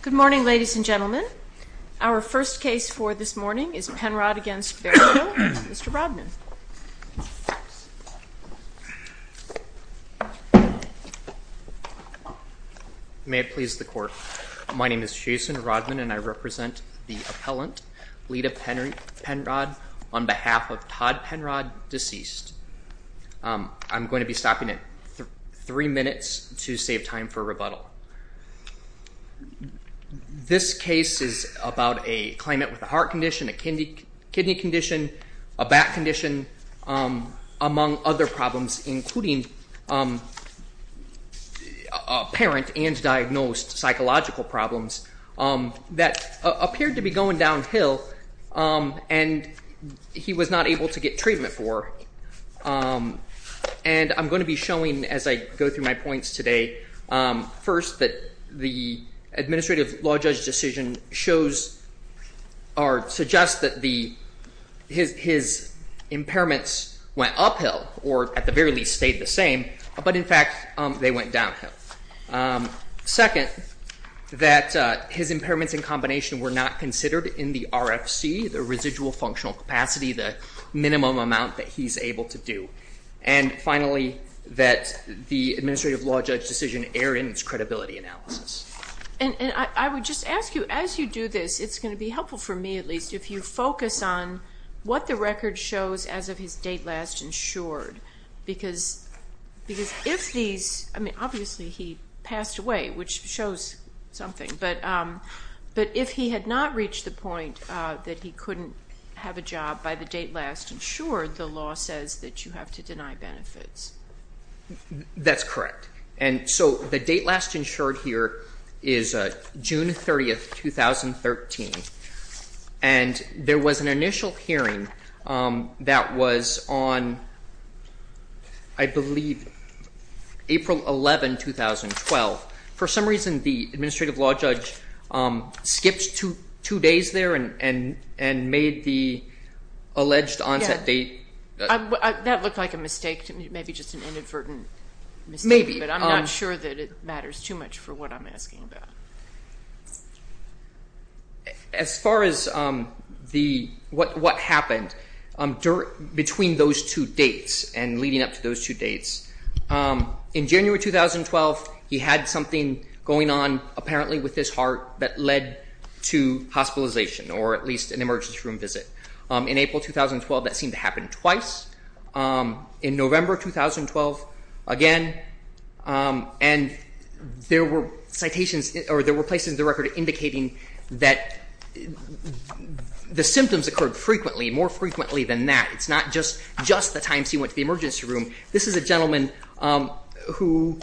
Good morning, ladies and gentlemen. Our first case for this morning is Penrod v. Berryhill. Mr. Rodman. May it please the Court. My name is Jason Rodman and I represent the appellant, Leta Penrod, on behalf of Todd Penrod, deceased. I'm going to be stopping at three minutes to save time for rebuttal. This case is about a claimant with a heart condition, a kidney condition, a back condition, among other problems, including apparent and diagnosed psychological problems that appeared to be going downhill and he was not able to get treatment for. And I'm going to be showing, as I go through my points today, first that the administrative law judge decision shows or suggests that his impairments went uphill or at the very least stayed the same, but in fact they went downhill. Second, that his impairments in combination were not considered in the RFC, the residual functional capacity, the minimum amount that he's able to do. And finally, that the administrative law judge decision erred in its credibility analysis. And I would just ask you, as you do this, it's going to be helpful for me at least, if you focus on what the record shows as of his date last insured, because if these, I mean, obviously he passed away, which shows something, but if he had not reached the point that he couldn't have a job by the date last insured, the law says that you have to deny benefits. That's correct. And so the date last insured here is June 30, 2013. And there was an initial hearing that was on, I believe, April 11, 2012. For some reason, the administrative law judge skipped two days there and made the alleged onset date. That looked like a mistake, maybe just an inadvertent mistake. Maybe. But I'm not sure that it matters too much for what I'm asking about. As far as what happened between those two dates and leading up to those two dates, in January 2012, he had something going on apparently with his heart that led to hospitalization, or at least an emergency room visit. In April 2012, that seemed to happen twice. In November 2012, again. And there were citations or there were places in the record indicating that the symptoms occurred frequently, more frequently than that. It's not just the times he went to the emergency room. This is a gentleman who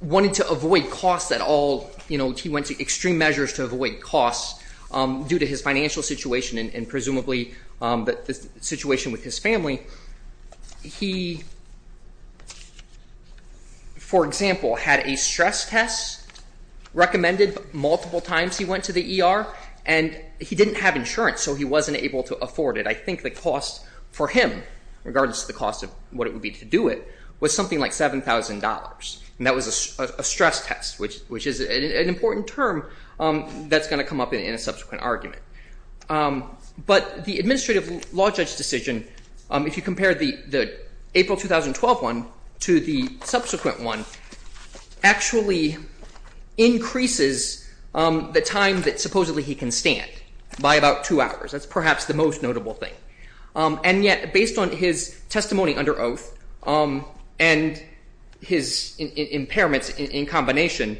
wanted to avoid costs at all. He went to extreme measures to avoid costs due to his financial situation and presumably the situation with his family. He, for example, had a stress test recommended multiple times he went to the ER, and he didn't have insurance, so he wasn't able to afford it. I think the cost for him, regardless of the cost of what it would be to do it, was something like $7,000, and that was a stress test, which is an important term that's going to come up in a subsequent argument. But the administrative law judge decision, if you compare the April 2012 one to the subsequent one, actually increases the time that supposedly he can stand by about two hours. That's perhaps the most notable thing. And yet, based on his testimony under oath and his impairments in combination,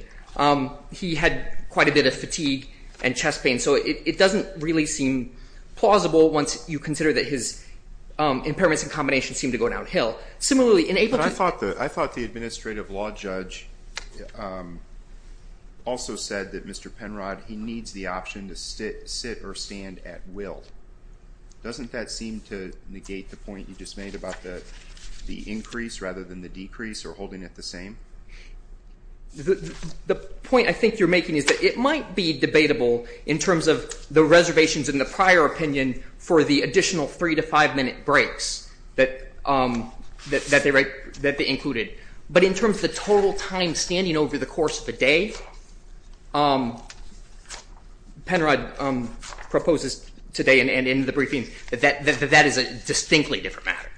he had quite a bit of fatigue and chest pain. So it doesn't really seem plausible once you consider that his impairments in combination seem to go downhill. I thought the administrative law judge also said that Mr. Penrod, he needs the option to sit or stand at will. Doesn't that seem to negate the point you just made about the increase rather than the decrease or holding it the same? The point I think you're making is that it might be debatable in terms of the reservations in the prior opinion for the additional three to five minute breaks that they included. But in terms of the total time standing over the course of a day, Penrod proposes today and in the briefing that that is a distinctly different matter.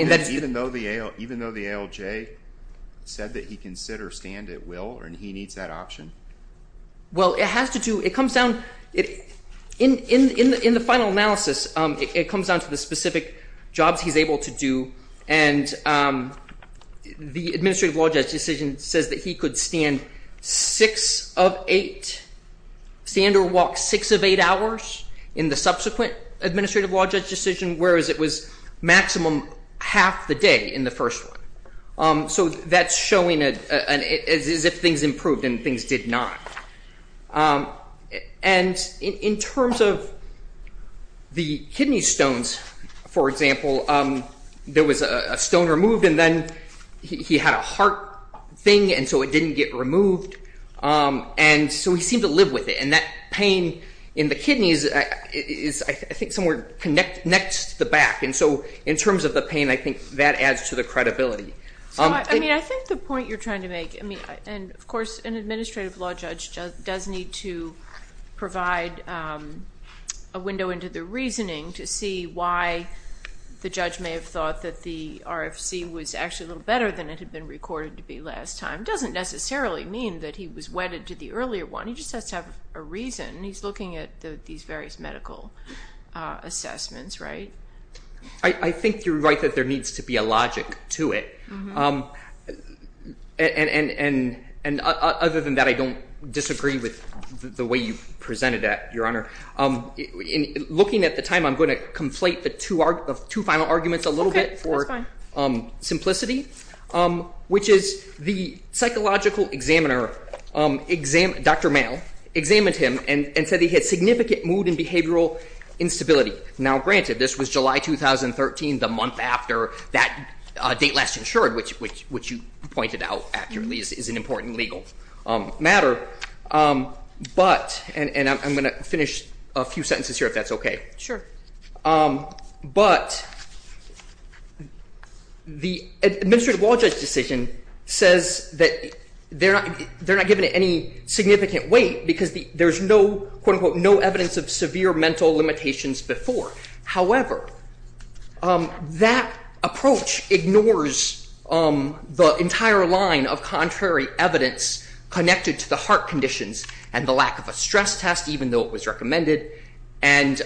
Even though the ALJ said that he can sit or stand at will and he needs that option? Well, it has to do, it comes down, in the final analysis, it comes down to the specific jobs he's able to do. And the administrative law judge decision says that he could stand six of eight, stand or walk six of eight hours in the subsequent administrative law judge decision, whereas it was maximum half the day in the first one. So that's showing as if things improved and things did not. And in terms of the kidney stones, for example, there was a stone removed and then he had a heart thing and so it didn't get removed and so he seemed to live with it. And that pain in the kidneys is, I think, somewhere next to the back. And so in terms of the pain, I think that adds to the credibility. I think the point you're trying to make, and of course an administrative law judge does need to provide a window into the reasoning to see why the judge may have thought that the RFC was actually a little better than it had been recorded to be last time, doesn't necessarily mean that he was wedded to the earlier one. He just has to have a reason. He's looking at these various medical assessments, right? I think you're right that there needs to be a logic to it. And other than that, I don't disagree with the way you presented that, Your Honor. Looking at the time, I'm going to conflate the two final arguments a little bit for simplicity, which is the psychological examiner, Dr. Male, examined him and said he had significant mood and behavioral instability. Now granted, this was July 2013, the month after that date last insured, which you pointed out accurately is an important legal matter. But, and I'm going to finish a few sentences here if that's okay. Sure. But the administrative law judge decision says that they're not giving it any significant weight because there's no, quote, unquote, no evidence of severe mental limitations before. However, that approach ignores the entire line of contrary evidence connected to the heart conditions and the lack of a stress test, even though it was recommended. And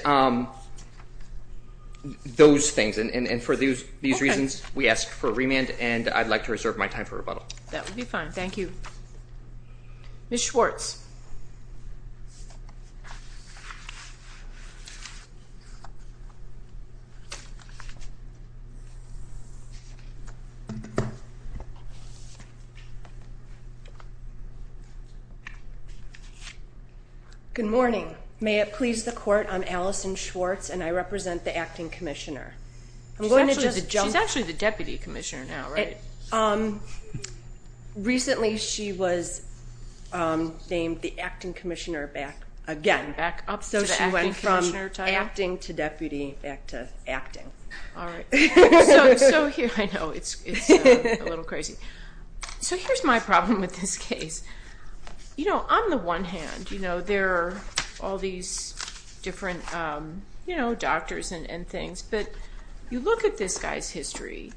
those things, and for these reasons, we ask for a remand, and I'd like to reserve my time for rebuttal. That would be fine. Thank you. Ms. Schwartz. Good morning. Good morning. May it please the court, I'm Allison Schwartz, and I represent the acting commissioner. She's actually the deputy commissioner now, right? Recently she was named the acting commissioner back again. Back up to the acting commissioner title? So she went from acting to deputy back to acting. All right. So here, I know, it's a little crazy. So here's my problem with this case. You know, on the one hand, there are all these different doctors and things, but you look at this guy's history,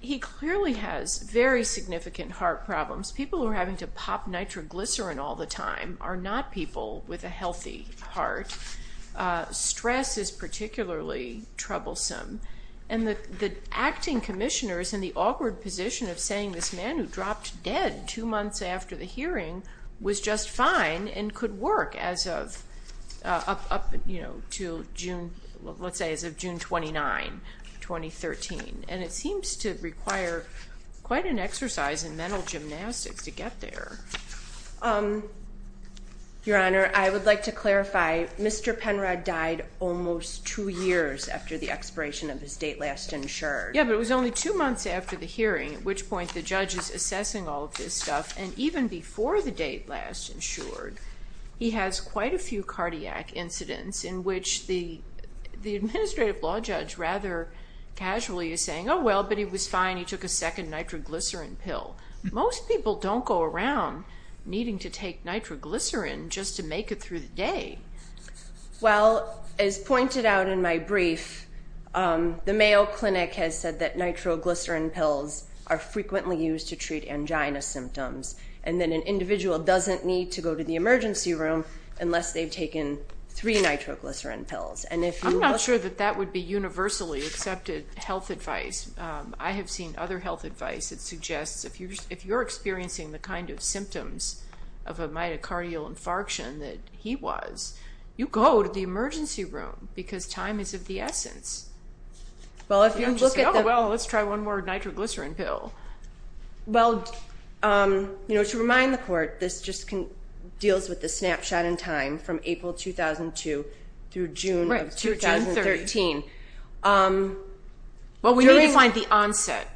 he clearly has very significant heart problems. People who are having to pop nitroglycerin all the time are not people with a healthy heart. Stress is particularly troublesome. And the acting commissioner is in the awkward position of saying this man who dropped dead two months after the hearing was just fine and could work as of June 29, 2013. And it seems to require quite an exercise in mental gymnastics to get there. Your Honor, I would like to clarify, Mr. Penrod died almost two years after the expiration of his date last insured. At which point the judge is assessing all of this stuff. And even before the date last insured, he has quite a few cardiac incidents in which the administrative law judge rather casually is saying, oh, well, but he was fine, he took a second nitroglycerin pill. Most people don't go around needing to take nitroglycerin just to make it through the day. Well, as pointed out in my brief, the Mayo Clinic has said that nitroglycerin pills are frequently used to treat angina symptoms. And that an individual doesn't need to go to the emergency room unless they've taken three nitroglycerin pills. I'm not sure that that would be universally accepted health advice. I have seen other health advice that suggests if you're experiencing the kind of symptoms of a mitocardial infarction that he was, you go to the emergency room because time is of the essence. Well, if you look at the... Oh, well, let's try one more nitroglycerin pill. Well, to remind the Court, this just deals with the snapshot in time from April 2002 through June of 2013. Right, through June 30th. Well, we need to find the onset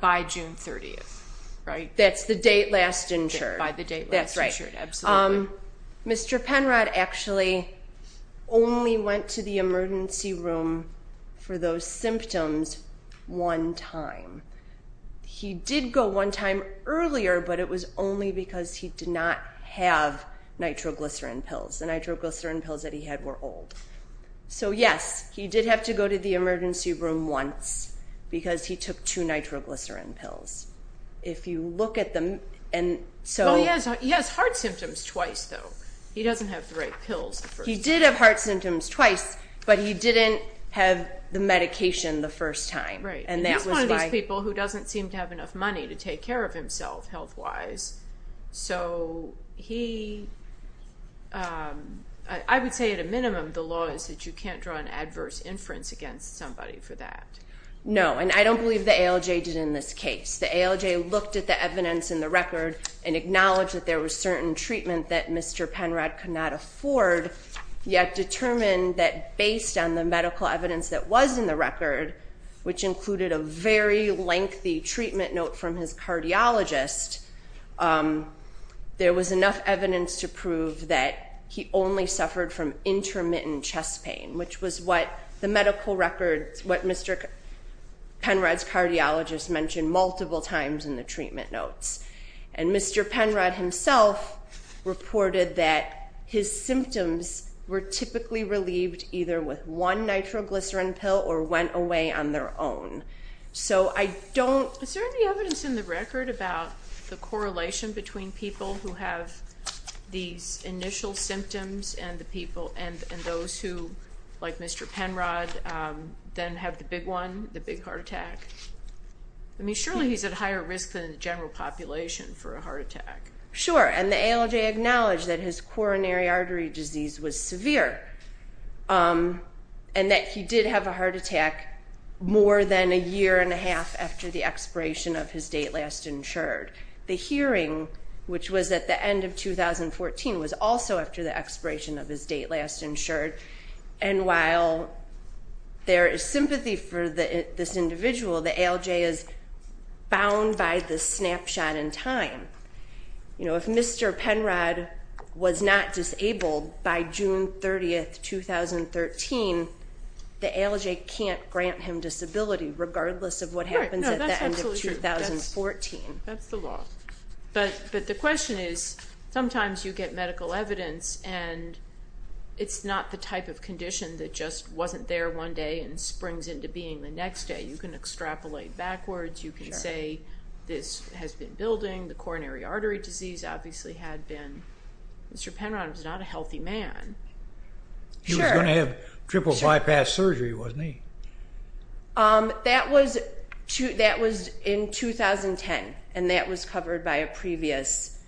by June 30th, right? By the date last insured. By the date last insured, absolutely. Mr. Penrod actually only went to the emergency room for those symptoms one time. He did go one time earlier, but it was only because he did not have nitroglycerin pills. The nitroglycerin pills that he had were old. So, yes, he did have to go to the emergency room once because he took two nitroglycerin pills. If you look at the... Well, he has heart symptoms twice, though. He doesn't have the right pills. He did have heart symptoms twice, but he didn't have the medication the first time. Right. He's one of these people who doesn't seem to have enough money to take care of himself health-wise. So he... I would say, at a minimum, the law is that you can't draw an adverse inference against somebody for that. No, and I don't believe the ALJ did in this case. The ALJ looked at the evidence in the record and acknowledged that there was certain treatment that Mr. Penrod could not afford, yet determined that based on the medical evidence that was in the record, which included a very lengthy treatment note from his cardiologist, there was enough evidence to prove that he only suffered from intermittent chest pain, which was what the medical record, what Mr. Penrod's cardiologist mentioned multiple times in the treatment notes. And Mr. Penrod himself reported that his symptoms were typically relieved either with one nitroglycerin pill or went away on their own. So I don't... Is there any evidence in the record about the correlation between people who have these initial symptoms and those who, like Mr. Penrod, then have the big one, the big heart attack? I mean, surely he's at higher risk than the general population for a heart attack. Sure, and the ALJ acknowledged that his coronary artery disease was severe and that he did have a heart attack more than a year and a half after the expiration of his date last insured. The hearing, which was at the end of 2014, was also after the expiration of his date last insured. And while there is sympathy for this individual, the ALJ is bound by the snapshot in time. You know, if Mr. Penrod was not disabled by June 30, 2013, the ALJ can't grant him disability regardless of what happens at the end of 2014. That's the law. But the question is, sometimes you get medical evidence and it's not the type of condition that just wasn't there one day and springs into being the next day. You can extrapolate backwards. You can say this has been building. The coronary artery disease obviously had been... Mr. Penrod was not a healthy man. He was going to have triple bypass surgery, wasn't he? That was in 2010, and that was covered by a previous...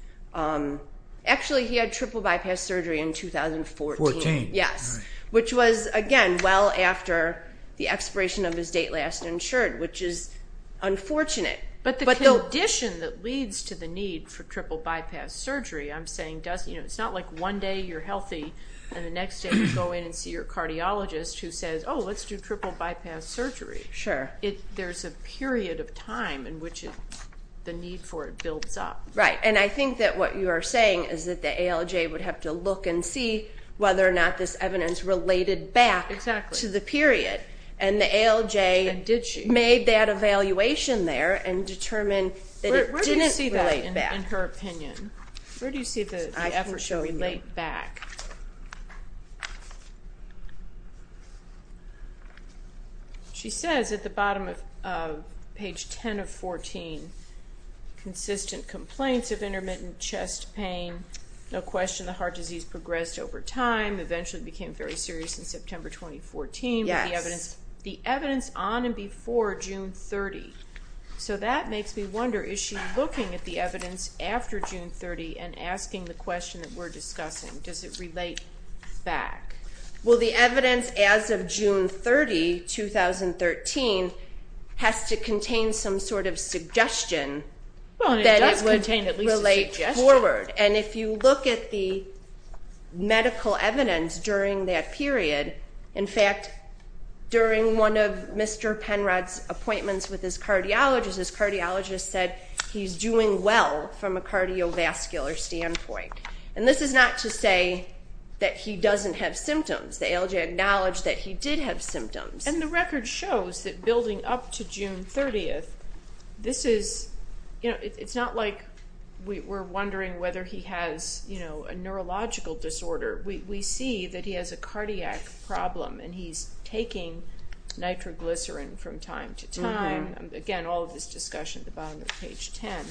Actually, he had triple bypass surgery in 2014. Fourteen. Yes, which was, again, well after the expiration of his date last insured, which is unfortunate. But the condition that leads to the need for triple bypass surgery, I'm saying it's not like one day you're healthy and the next day you go in and see your cardiologist who says, Oh, let's do triple bypass surgery. Sure. There's a period of time in which the need for it builds up. Right, and I think that what you are saying is that the ALJ would have to look and see whether or not this evidence related back to the period. And the ALJ made that evaluation there and determined that it didn't relate back. Where do you see that in her opinion? Where do you see the effort to relate back? She says at the bottom of page 10 of 14, consistent complaints of intermittent chest pain, no question the heart disease progressed over time, eventually became very serious in September 2014. Yes. The evidence on and before June 30. So that makes me wonder, is she looking at the evidence after June 30 and asking the question that we're discussing? Does it relate back? Well, the evidence as of June 30, 2013, has to contain some sort of suggestion that it would relate forward. And if you look at the medical evidence during that period, in fact, during one of Mr. Penrod's appointments with his cardiologist, his cardiologist said he's doing well from a cardiovascular standpoint. And this is not to say that he doesn't have symptoms. The ALJ acknowledged that he did have symptoms. And the record shows that building up to June 30, it's not like we're wondering whether he has a neurological disorder. We see that he has a cardiac problem and he's taking nitroglycerin from time to time. Again, all of this discussion at the bottom of page 10.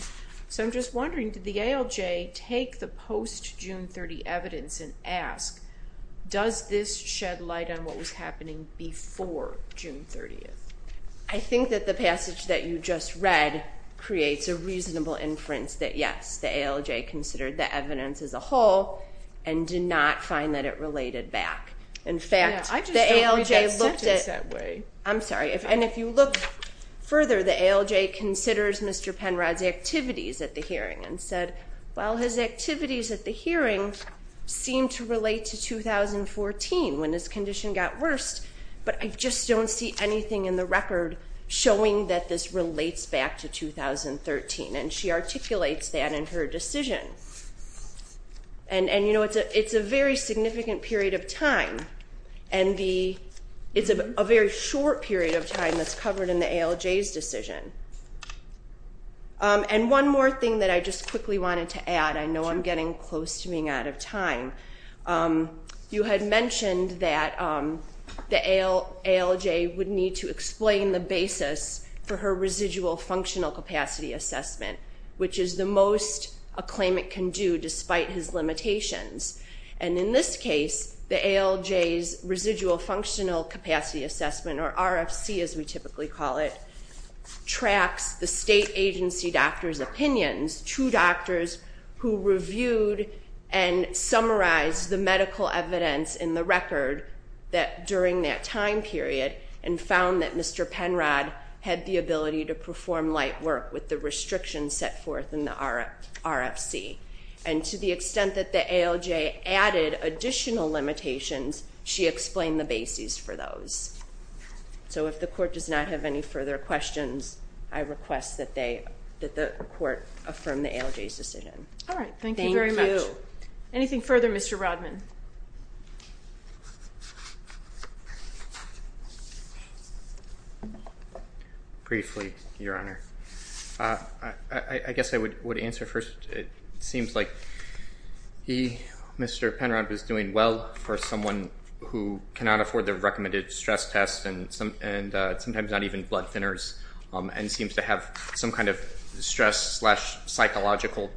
So I'm just wondering, did the ALJ take the post-June 30 evidence and ask, does this shed light on what was happening before June 30? I think that the passage that you just read creates a reasonable inference that, yes, the ALJ considered the evidence as a whole and did not find that it related back. In fact, the ALJ looked at it. I just don't read that sentence that way. I'm sorry. And if you look further, the ALJ considers Mr. Penrod's activities at the hearing and said, well, his activities at the hearing seem to relate to 2014 when his condition got worse, but I just don't see anything in the record showing that this relates back to 2013. And she articulates that in her decision. And, you know, it's a very significant period of time. It's a very short period of time that's covered in the ALJ's decision. And one more thing that I just quickly wanted to add. I know I'm getting close to being out of time. You had mentioned that the ALJ would need to explain the basis for her residual functional capacity assessment, which is the most a claimant can do despite his limitations. And in this case, the ALJ's residual functional capacity assessment, or RFC as we typically call it, tracks the state agency doctor's opinions to doctors who reviewed and summarized the medical evidence in the record during that time period and found that Mr. Penrod had the ability to perform light work with the restrictions set forth in the RFC. And to the extent that the ALJ added additional limitations, she explained the basis for those. So if the court does not have any further questions, I request that the court affirm the ALJ's decision. All right. Thank you very much. Thank you. Anything further, Mr. Rodman? Briefly, Your Honor. I guess I would answer first. It seems like Mr. Penrod was doing well for someone who cannot afford the recommended stress test and sometimes not even blood thinners and seems to have some kind of stress-psychological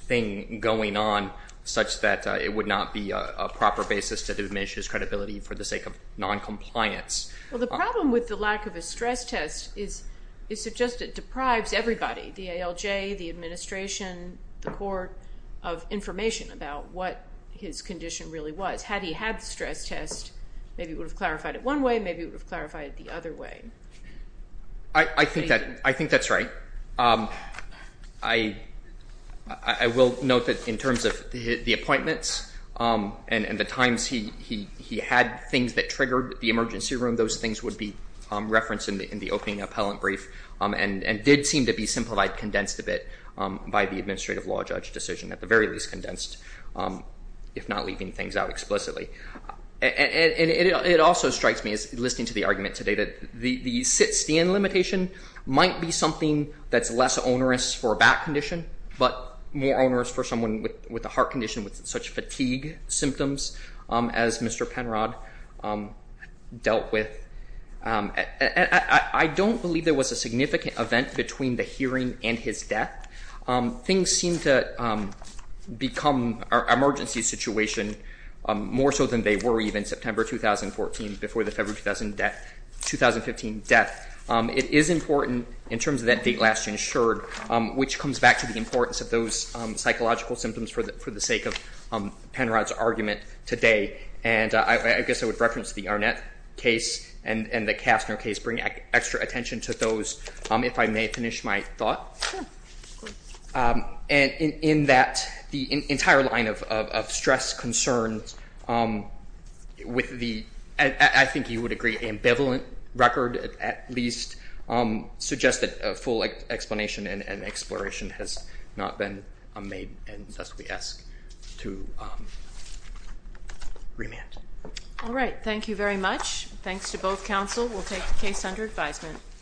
thing going on such that it would not be a proper basis to diminish his credibility for the sake of noncompliance. Well, the problem with the lack of a stress test is it just deprives everybody, the ALJ, the administration, the court of information about what his condition really was. Had he had the stress test, maybe it would have clarified it one way, maybe it would have clarified it the other way. I think that's right. I will note that in terms of the appointments and the times he had things that triggered the emergency room, those things would be referenced in the opening appellant brief and did seem to be simplified, condensed a bit by the administrative law judge decision, at the very least condensed if not leaving things out explicitly. And it also strikes me as listening to the argument today that the sit-stand limitation might be something that's less onerous for a back condition but more onerous for someone with a heart condition with such fatigue symptoms as Mr. Penrod dealt with. I don't believe there was a significant event between the hearing and his death. Things seem to become an emergency situation more so than they were even September 2014 before the February 2015 death. It is important in terms of that date last insured, which comes back to the importance of those psychological symptoms for the sake of Penrod's argument today. And I guess I would reference the Arnett case and the Kastner case, bring extra attention to those if I may finish my thought. And in that, the entire line of stress concerns with the, I think you would agree, ambivalent record at least, suggest that a full explanation and exploration has not been made and thus we ask to remand. All right. Thank you very much. Thanks to both counsel. We'll take the case under advisement.